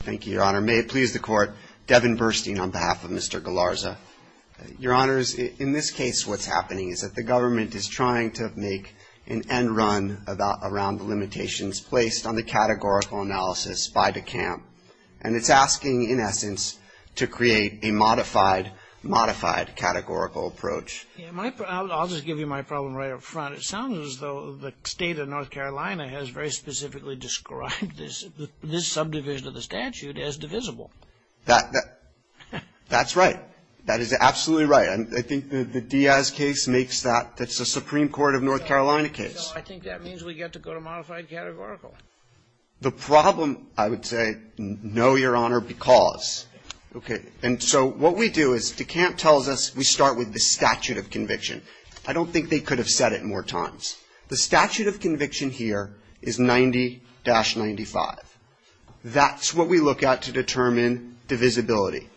Thank you, your honor. May it please the court, Devin Burstein on behalf of Mr. Galarza. Your honors, in this case, what's happening is that the government is trying to make an end run around the limitations placed on the categorical analysis by DeCamp. And it's asking, in essence, to create a modified, modified categorical approach. Yeah, I'll just give you my problem right up front. It sounds as though the state of North That's right. That is absolutely right. And I think the Diaz case makes that, that's the Supreme Court of North Carolina case. No, I think that means we get to go to modified categorical. The problem, I would say, no, your honor, because. Okay. And so what we do is DeCamp tells us we start with the statute of conviction. I don't think they could have said it more times. The statute of conviction here is 90-95. That's what we look at to determine divisibility.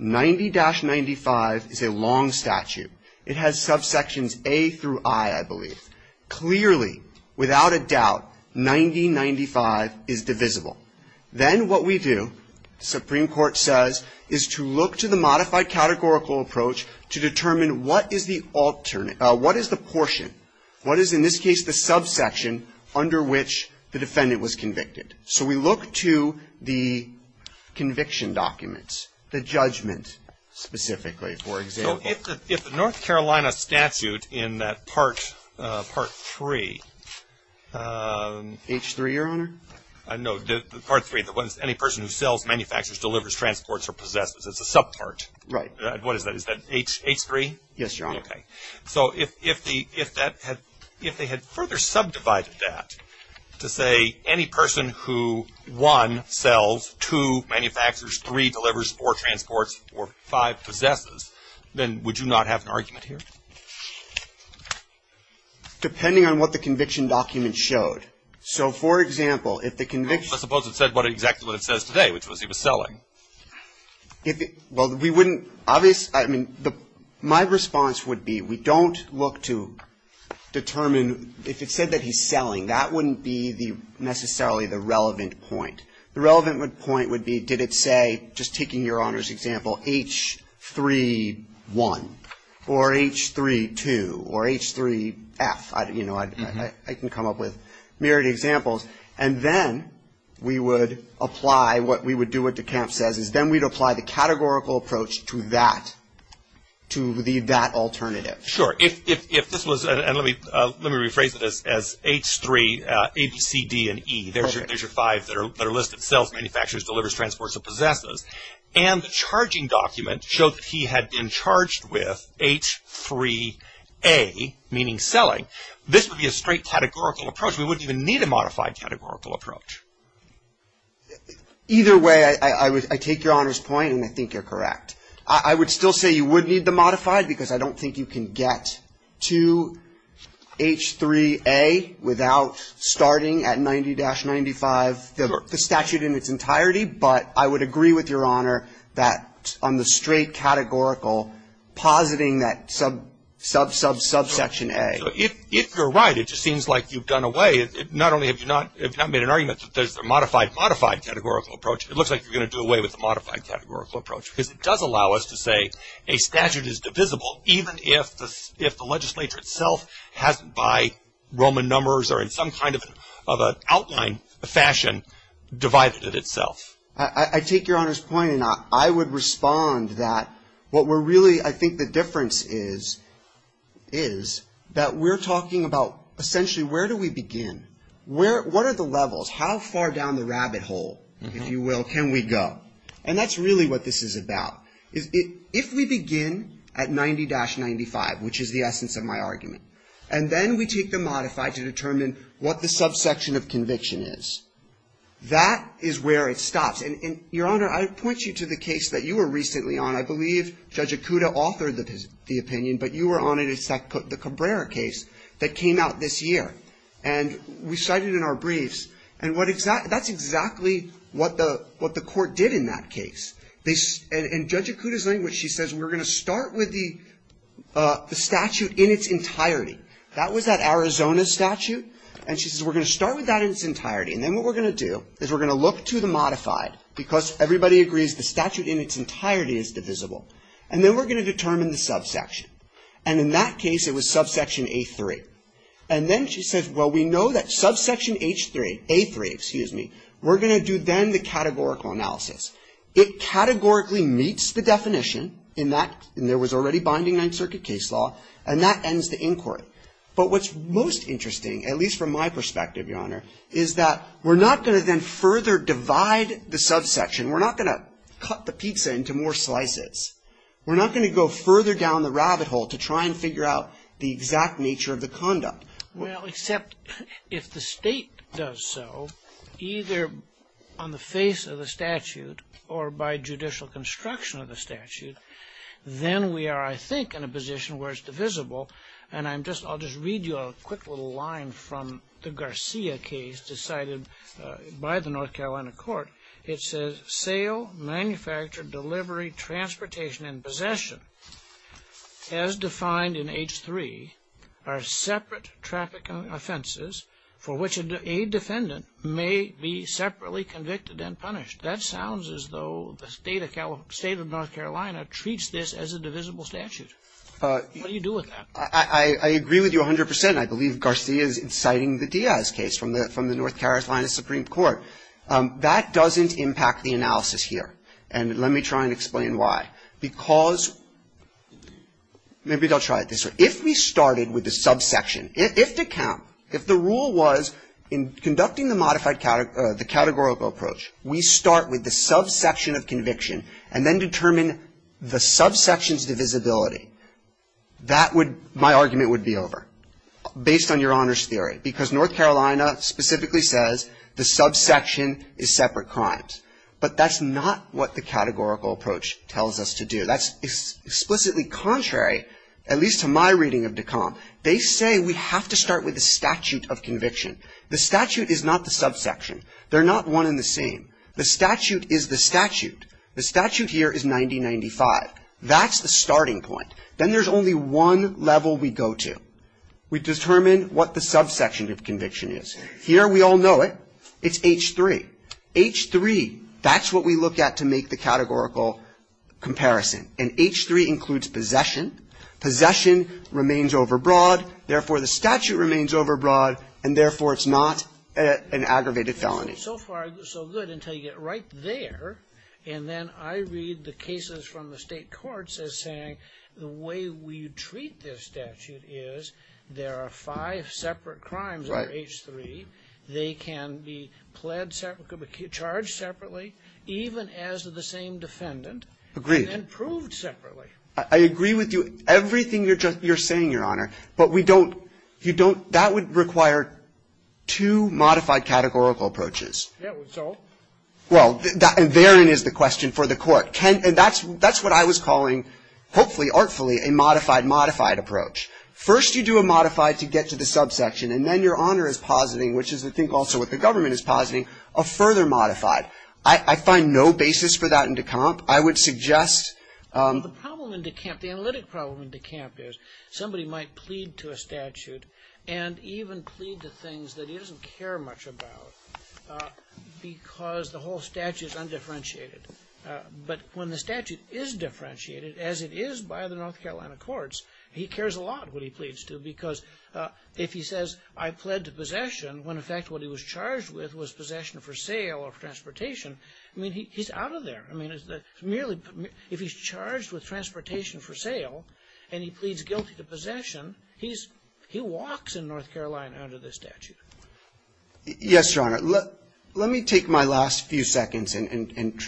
90-95 is a long statute. It has subsections A through I, I believe. Clearly, without a doubt, 90-95 is divisible. Then what we do, Supreme Court says, is to look to the modified categorical approach to determine what is the alternate, what is the portion, what is, in this case, the subsection under which the defendant was convicted. So we look to the conviction documents, the judgment, specifically, for example. So if the North Carolina statute in that part, part three. H3, your honor? No, the part three, that when any person who sells, manufactures, delivers, transports or possesses, it's a subpart. Right. What is that? Is that H3? Yes, your honor. Okay. So if they had further subdivided that to say any person who, one, sells, two, manufactures, three, delivers, or transports, or five, possesses, then would you not have an argument here? Depending on what the conviction document showed. So for example, if the conviction document, let's suppose it said exactly what it says today, which was he was selling. Well, we wouldn't, obviously, I mean, my response would be we don't look to determine if it said that he's selling, that wouldn't be necessarily the relevant point. The relevant point would be did it say, just taking your honor's example, H3-1 or H3-2 or H3-F. You know, I can come up with myriad examples. And then we would apply what we would do what DeKalb says, is then we'd apply the categorical approach to that, to that alternative. Sure. If this was, and let me rephrase this as H3, A, B, C, D, and E, there's your five that are listed, sells, manufactures, delivers, transports, or possesses. And the charging document showed that he had been charged with H3-A, meaning selling. This would be a straight categorical approach. We wouldn't even need a modified categorical approach. Either way, I take your honor's point, and I think you're correct. I would still say you would need the modified because I don't think you can get to H3-A without starting at 90-95, the statute in its entirety. But I would agree with your honor that on the straight categorical, positing that sub, sub, sub, subsection A. So if you're right, it just seems like you've done away, not only have you not made an argument that there's a modified, modified categorical approach, it looks like you're going to do away with the modified categorical approach because it does allow us to say a statute is divisible even if the legislature itself hasn't by Roman numbers or in some kind of outline fashion divided it itself. I take your honor's point, and I would respond that what we're really, I think the difference is, is that we're talking about essentially where do we begin? Where, what are the levels? How far down the rabbit hole, if you will, can we go? And that's really what this is about. Is it, if we begin at 90-95, which is the essence of my argument, and then we take the modified to determine what the subsection of conviction is, that is where it stops. And, and your honor, I would point you to the case that you were recently on. I believe Judge Acuda authored the opinion, but you were on it. It's the Cabrera case that came out this year. And we cited in our briefs, and what exactly, that's exactly what the, what the court did in that case. They, and Judge Acuda's language, she says, we're going to start with the, the statute in its entirety. That was that Arizona statute, and she says we're going to start with that in its entirety. And then what we're going to do is we're going to look to the modified, because everybody agrees the statute in its entirety is divisible. And then we're going to determine the subsection. And in that case, it was subsection A3. And then she says, well, we know that subsection H3, A3, excuse me, we're going to do then the categorical analysis. It categorically meets the definition in that, and there was already binding Ninth Circuit case law, and that ends the inquiry. But what's most interesting, at least from my perspective, Your Honor, is that we're not going to then further divide the subsection. We're not going to cut the pizza into more slices. We're not going to go further down the rabbit hole to try and figure out the exact nature of the conduct. Well, except if the State does so, either on the face of the statute or by judicial construction of the statute, then we are, I think, in a position where it's divisible. And I'm just, I'll just read you a quick little line from the Garcia case decided by the North Carolina court. It says, sale, manufacture, delivery, transportation, and possession, as defined in H3, are separate traffic offenses for which a defendant may be separately convicted and punished. That sounds as though the State of North Carolina treats this as a divisible statute. What do you do with that? I agree with you 100 percent. I believe Garcia is inciting the Diaz case from the North Carolina Supreme Court. That doesn't impact the analysis here, and let me try and explain why. Because, maybe I'll try it this way. If we started with the subsection, if the count, if the rule was in conducting the modified categorical approach, we start with the subsection of conviction and then determine the subsection's divisibility, that would, my argument would be over, based on your honor's theory. Because North Carolina specifically says the subsection is separate crimes. But that's not what the categorical approach tells us to do. That's explicitly contrary, at least to my reading of DECOM. They say we have to start with the statute of conviction. The statute is not the subsection. They're not one and the same. The statute is the statute. The statute here is 90-95. That's the starting point. Then there's only one level we go to. We determine what the subsection of conviction is. Here, we all know it. It's H-3. H-3, that's what we look at to make the categorical comparison. And H-3 includes possession. Possession remains overbroad, therefore the statute remains overbroad, and therefore it's not an aggravated felony. So far, so good, until you get right there, and then I read the cases from the State courts as saying the way we treat this statute is there are five separate crimes under H-3. Right. They can be pled separate, could be charged separately, even as the same defendant. Agreed. And then proved separately. I agree with you. Everything you're saying, Your Honor. But we don't, you don't, that would require two modified categorical approaches. Yeah, it would. So? Well, therein is the question for the Court. Can, and that's, that's what I was calling, hopefully, artfully, a modified-modified approach. First, you do a modified to get to the subsection, and then Your Honor is positing, which is, I think, also what the government is positing, a further modified. I find no basis for that in DeCamp. I would suggest the problem in DeCamp, the analytic problem in DeCamp is somebody might plead to a statute, and even plead to things that he doesn't care much about, because the whole statute is undifferentiated. But when the statute is differentiated, as it is by the North Carolina courts, he cares a lot what he pleads to, because if he says, I pled to possession, when, in fact, what he was charged with was possession for sale or transportation, I mean, he's out of there. I mean, it's merely, if he's charged with transportation for sale, and he pleads guilty to possession, he's, he walks in North Carolina under this statute. Yes, Your Honor. Let, let me take my last few seconds and, and, and,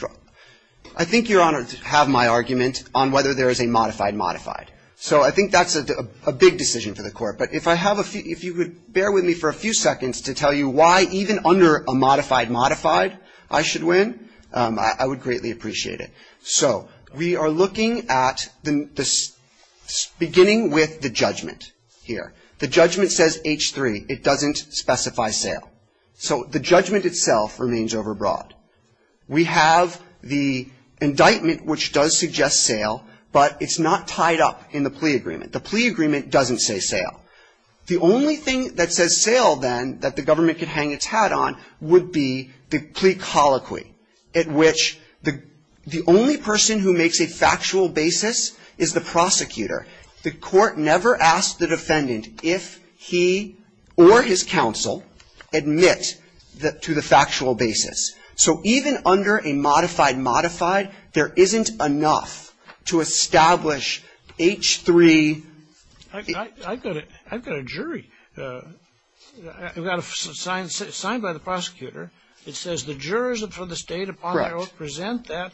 I think, Your Honor, to have my argument on whether there is a modified-modified. So I think that's a, a big decision for the Court. But if I have a few, if you could bear with me for a few seconds to tell you why even under a modified-modified I should win, I, I would greatly appreciate it. So we are looking at the, the, beginning with the judgment here. The judgment says H3. It doesn't specify sale. So the judgment itself remains overbroad. We have the indictment which does suggest sale, but it's not tied up in the plea agreement. The plea agreement doesn't say sale. The only thing that says sale, then, that the government could hang its hat on would be the plea colloquy at which the, the only person who makes a factual basis is the prosecutor. The Court never asked the defendant if he or his counsel admit the, to the factual basis. So even under a modified-modified, there isn't enough to establish H3. I, I, I've got a, I've got a jury. I've got a, signed, signed by the prosecutor. It says the jurors of the State of Colorado present that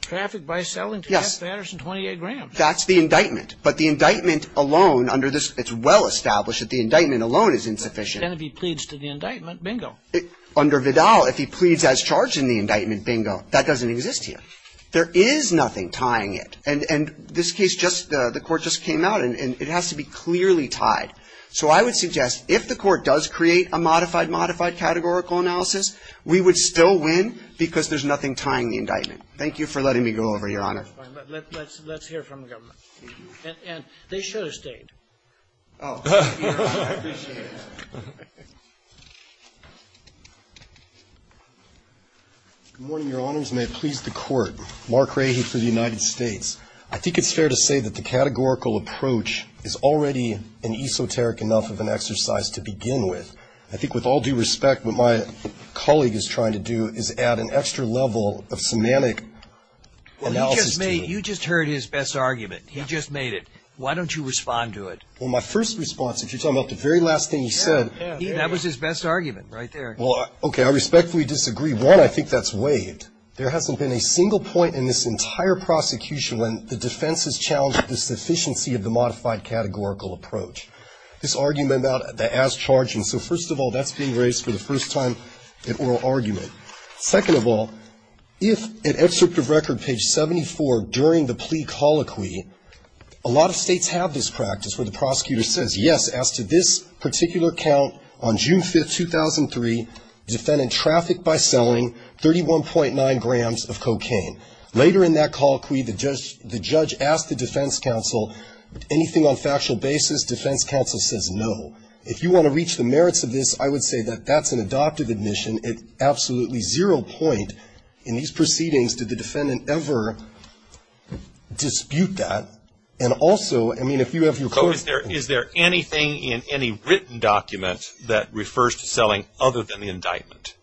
traffic by selling to Jeff Anderson, 28 grams. That's the indictment. But the indictment alone under this, it's well-established that the indictment alone is insufficient. Then if he pleads to the indictment, bingo. Under Vidal, if he pleads as charged in the indictment, bingo. That doesn't exist here. There is nothing tying it. And, and this case just, the Court just came out, and it has to be clearly tied. So I would suggest if the Court does create a modified-modified categorical analysis, we would still win because there's nothing tying the indictment. Thank you for letting me go over here, Your Honor. Roberts. Let's, let's hear from the government. And, and they should have stayed. Oh. I appreciate it. Good morning, Your Honors. May it please the Court. Mark Rahe for the United States. I think it's fair to say that the categorical approach is already an esoteric enough of an exercise to begin with. I think with all due respect, what my colleague is trying to do is add an extra level of semantic analysis to it. Well, you just made, you just heard his best argument. He just made it. Why don't you respond to it? Well, my first response, if you're talking about the very last thing he said. That was his best argument, right there. Well, okay. I respectfully disagree. One, I think that's waived. There hasn't been a single point in this entire prosecution when the defense has challenged the sufficiency of the modified categorical approach. This argument about the as-charged, and so first of all, that's being raised for the first time in oral argument. Second of all, if in excerpt of record, page 74, during the plea colloquy, a lot of states have this practice where the prosecutor says, yes, as to this particular count on June 5th, 2003, defendant trafficked by selling 31.9 grams of cocaine. Later in that colloquy, the judge asked the defense counsel, anything on factual basis? Defense counsel says no. If you want to reach the merits of this, I would say that that's an adoptive admission at absolutely zero point. In these proceedings, did the defendant ever dispute that? And also, I mean, if you have your court. Is there anything in any written document that refers to selling other than the indictment?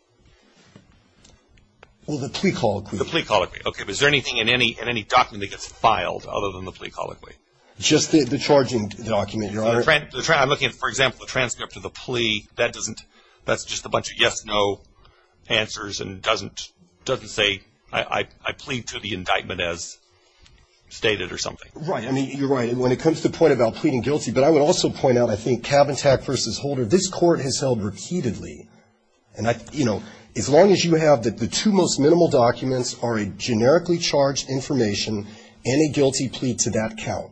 Well, the plea colloquy. The plea colloquy. Okay, but is there anything in any document that gets filed other than the plea colloquy? Just the charging document. I'm looking at, for example, the transcript of the plea. That's just a bunch of yes, no answers and doesn't say I plead to the indictment as stated or something. Right, I mean, you're right. When it comes to the point about pleading guilty, but I would also point out, I think, Cavantag versus Holder, this court has held repeatedly, and as long as you have the two most minimal documents are a generically charged information and a guilty plea to that count.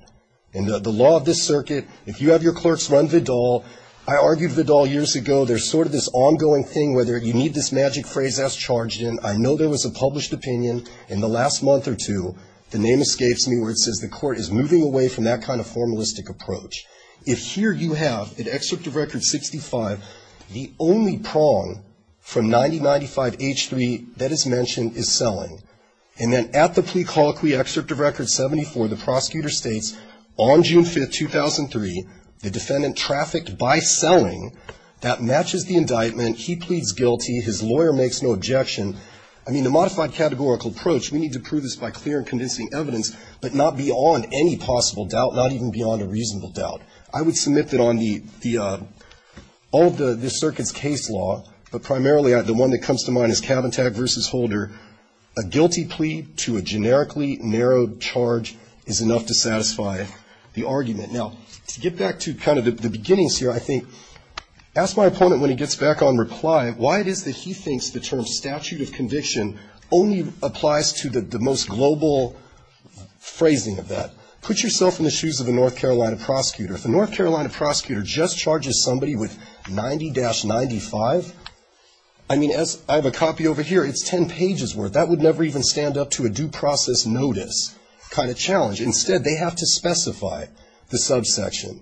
In the law of this circuit, if you have your clerks run Vidal, I argued Vidal years ago. There's sort of this ongoing thing, whether you need this magic phrase that's charged in. I know there was a published opinion in the last month or two. The name escapes me where it says the court is moving away from that kind of formalistic approach. If here you have an excerpt of record 65, the only prong from 9095 H3 that is mentioned is selling. And then at the plea colloquy excerpt of record 74, the prosecutor states on June 5th, 2003, the defendant trafficked by selling. That matches the indictment, he pleads guilty, his lawyer makes no objection. I mean, a modified categorical approach, we need to prove this by clear and convincing evidence, but not beyond any possible doubt, not even beyond a reasonable doubt. I would submit that on the, all of the circuit's case law, but primarily the one that comes to mind is Cavantag versus Holder. A guilty plea to a generically narrowed charge is enough to satisfy the argument. Now, to get back to kind of the beginnings here, I think, ask my opponent when he gets back on reply, why it is that he thinks the term statute of conviction only applies to the most global phrasing of that. Put yourself in the shoes of a North Carolina prosecutor. If a North Carolina prosecutor just charges somebody with 90-95, I mean, as I have a copy over here, it's ten pages worth. That would never even stand up to a due process notice kind of challenge. Instead, they have to specify the subsection.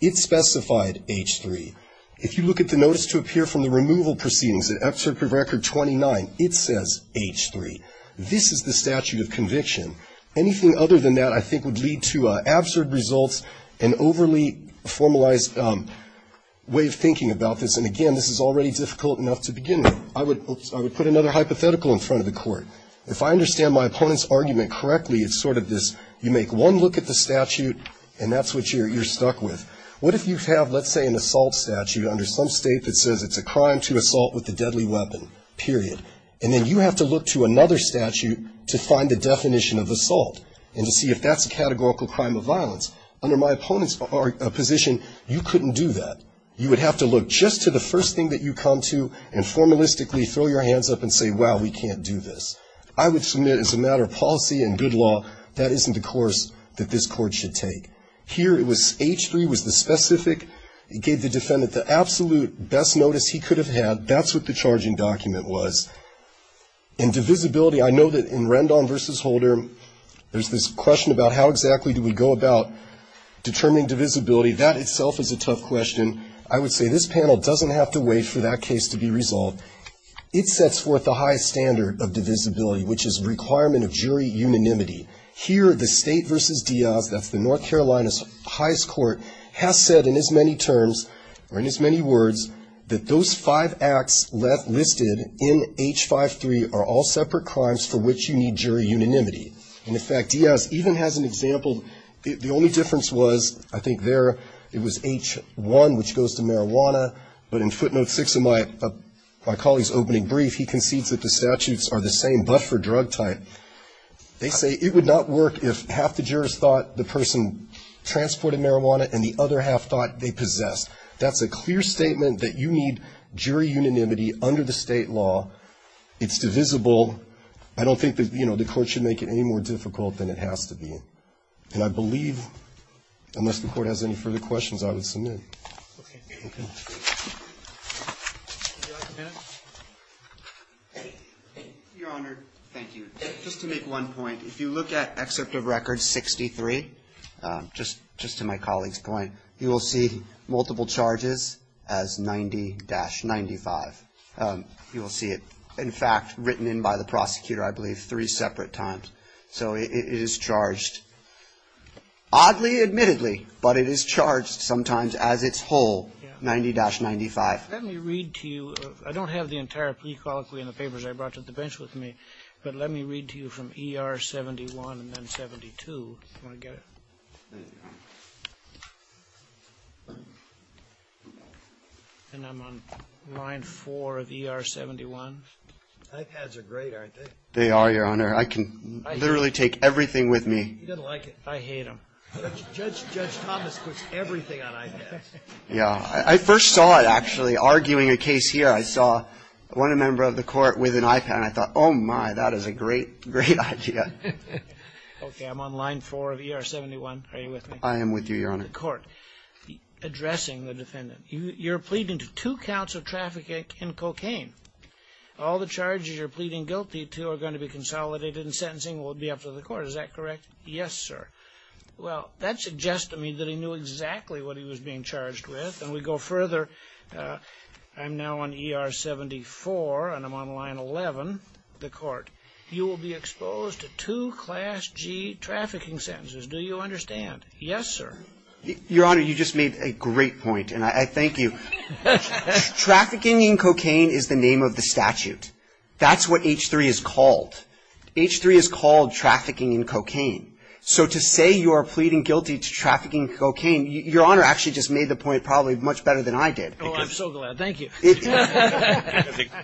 It specified H3. If you look at the notice to appear from the removal proceedings, at excerpt from record 29, it says H3. This is the statute of conviction. Anything other than that, I think, would lead to absurd results and overly formalized way of thinking about this. And again, this is already difficult enough to begin with. I would put another hypothetical in front of the court. If I understand my opponent's argument correctly, it's sort of this, you make one look at the statute, and that's what you're stuck with. What if you have, let's say, an assault statute under some state that says it's a crime to assault with a deadly weapon, period, and then you have to look to another statute to find the definition of assault and to see if that's a categorical crime of violence. Under my opponent's position, you couldn't do that. You would have to look just to the first thing that you come to and formalistically throw your hands up and say, wow, we can't do this. I would submit as a matter of policy and good law, that isn't the course that this court should take. Here, it was H3 was the specific. It gave the defendant the absolute best notice he could have had. That's what the charging document was. In divisibility, I know that in Rendon versus Holder, there's this question about how exactly do we go about determining divisibility. That itself is a tough question. I would say this panel doesn't have to wait for that case to be resolved. It sets forth the highest standard of divisibility, which is requirement of jury unanimity. Here, the state versus Diaz, that's the North Carolina's highest court, has said in as many terms, or in as many words, that those five acts left listed in H53 are all separate crimes for which you need jury unanimity. And in fact, Diaz even has an example. The only difference was, I think there, it was H1, which goes to marijuana. But in footnote six of my colleague's opening brief, he concedes that the statutes are the same but for drug type. They say it would not work if half the jurors thought the person transported marijuana and the other half thought they possessed. That's a clear statement that you need jury unanimity under the state law. It's divisible. I don't think the court should make it any more difficult than it has to be. And I believe, unless the court has any further questions, I would submit. Okay. Your Honor, thank you. Just to make one point. If you look at excerpt of record 63, just to my colleague's point, you will see multiple charges as 90-95, you will see it. In fact, written in by the prosecutor, I believe, three separate times. So it is charged, oddly admittedly, but it is charged sometimes as it's whole, 90-95. Let me read to you, I don't have the entire pre-colloquy and the papers I brought to the bench with me. But let me read to you from ER 71 and then 72, you want to get it? And I'm on line four of ER 71. iPads are great, aren't they? They are, Your Honor. I can literally take everything with me. He doesn't like it. I hate them. Judge Thomas puts everything on iPads. Yeah, I first saw it, actually, arguing a case here. I saw one member of the court with an iPad, and I thought, my, that is a great, great idea. Okay, I'm on line four of ER 71, are you with me? I am with you, Your Honor. The court, addressing the defendant. You're pleading to two counts of trafficking in cocaine. All the charges you're pleading guilty to are going to be consolidated in sentencing will be up to the court, is that correct? Yes, sir. Well, that suggests to me that he knew exactly what he was being charged with. And we go further, I'm now on ER 74, and I'm on line 11, the court. You will be exposed to two class G trafficking sentences. Do you understand? Yes, sir. Your Honor, you just made a great point, and I thank you. Trafficking in cocaine is the name of the statute. That's what H3 is called. H3 is called trafficking in cocaine. So to say you are pleading guilty to trafficking in cocaine, your Honor actually just made the point probably much better than I did. Oh, I'm so glad, thank you.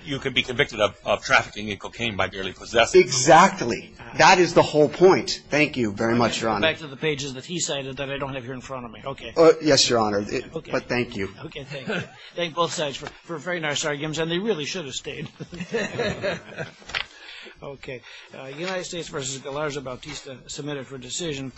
You could be convicted of trafficking in cocaine by duly possessing. Exactly, that is the whole point. Thank you very much, Your Honor. Back to the pages that he cited that I don't have here in front of me, okay. Yes, Your Honor, but thank you. Okay, thank you. Thank both sides for very nice arguments, and they really should have stayed. Okay, United States versus Galarza-Bautista submitted for decision.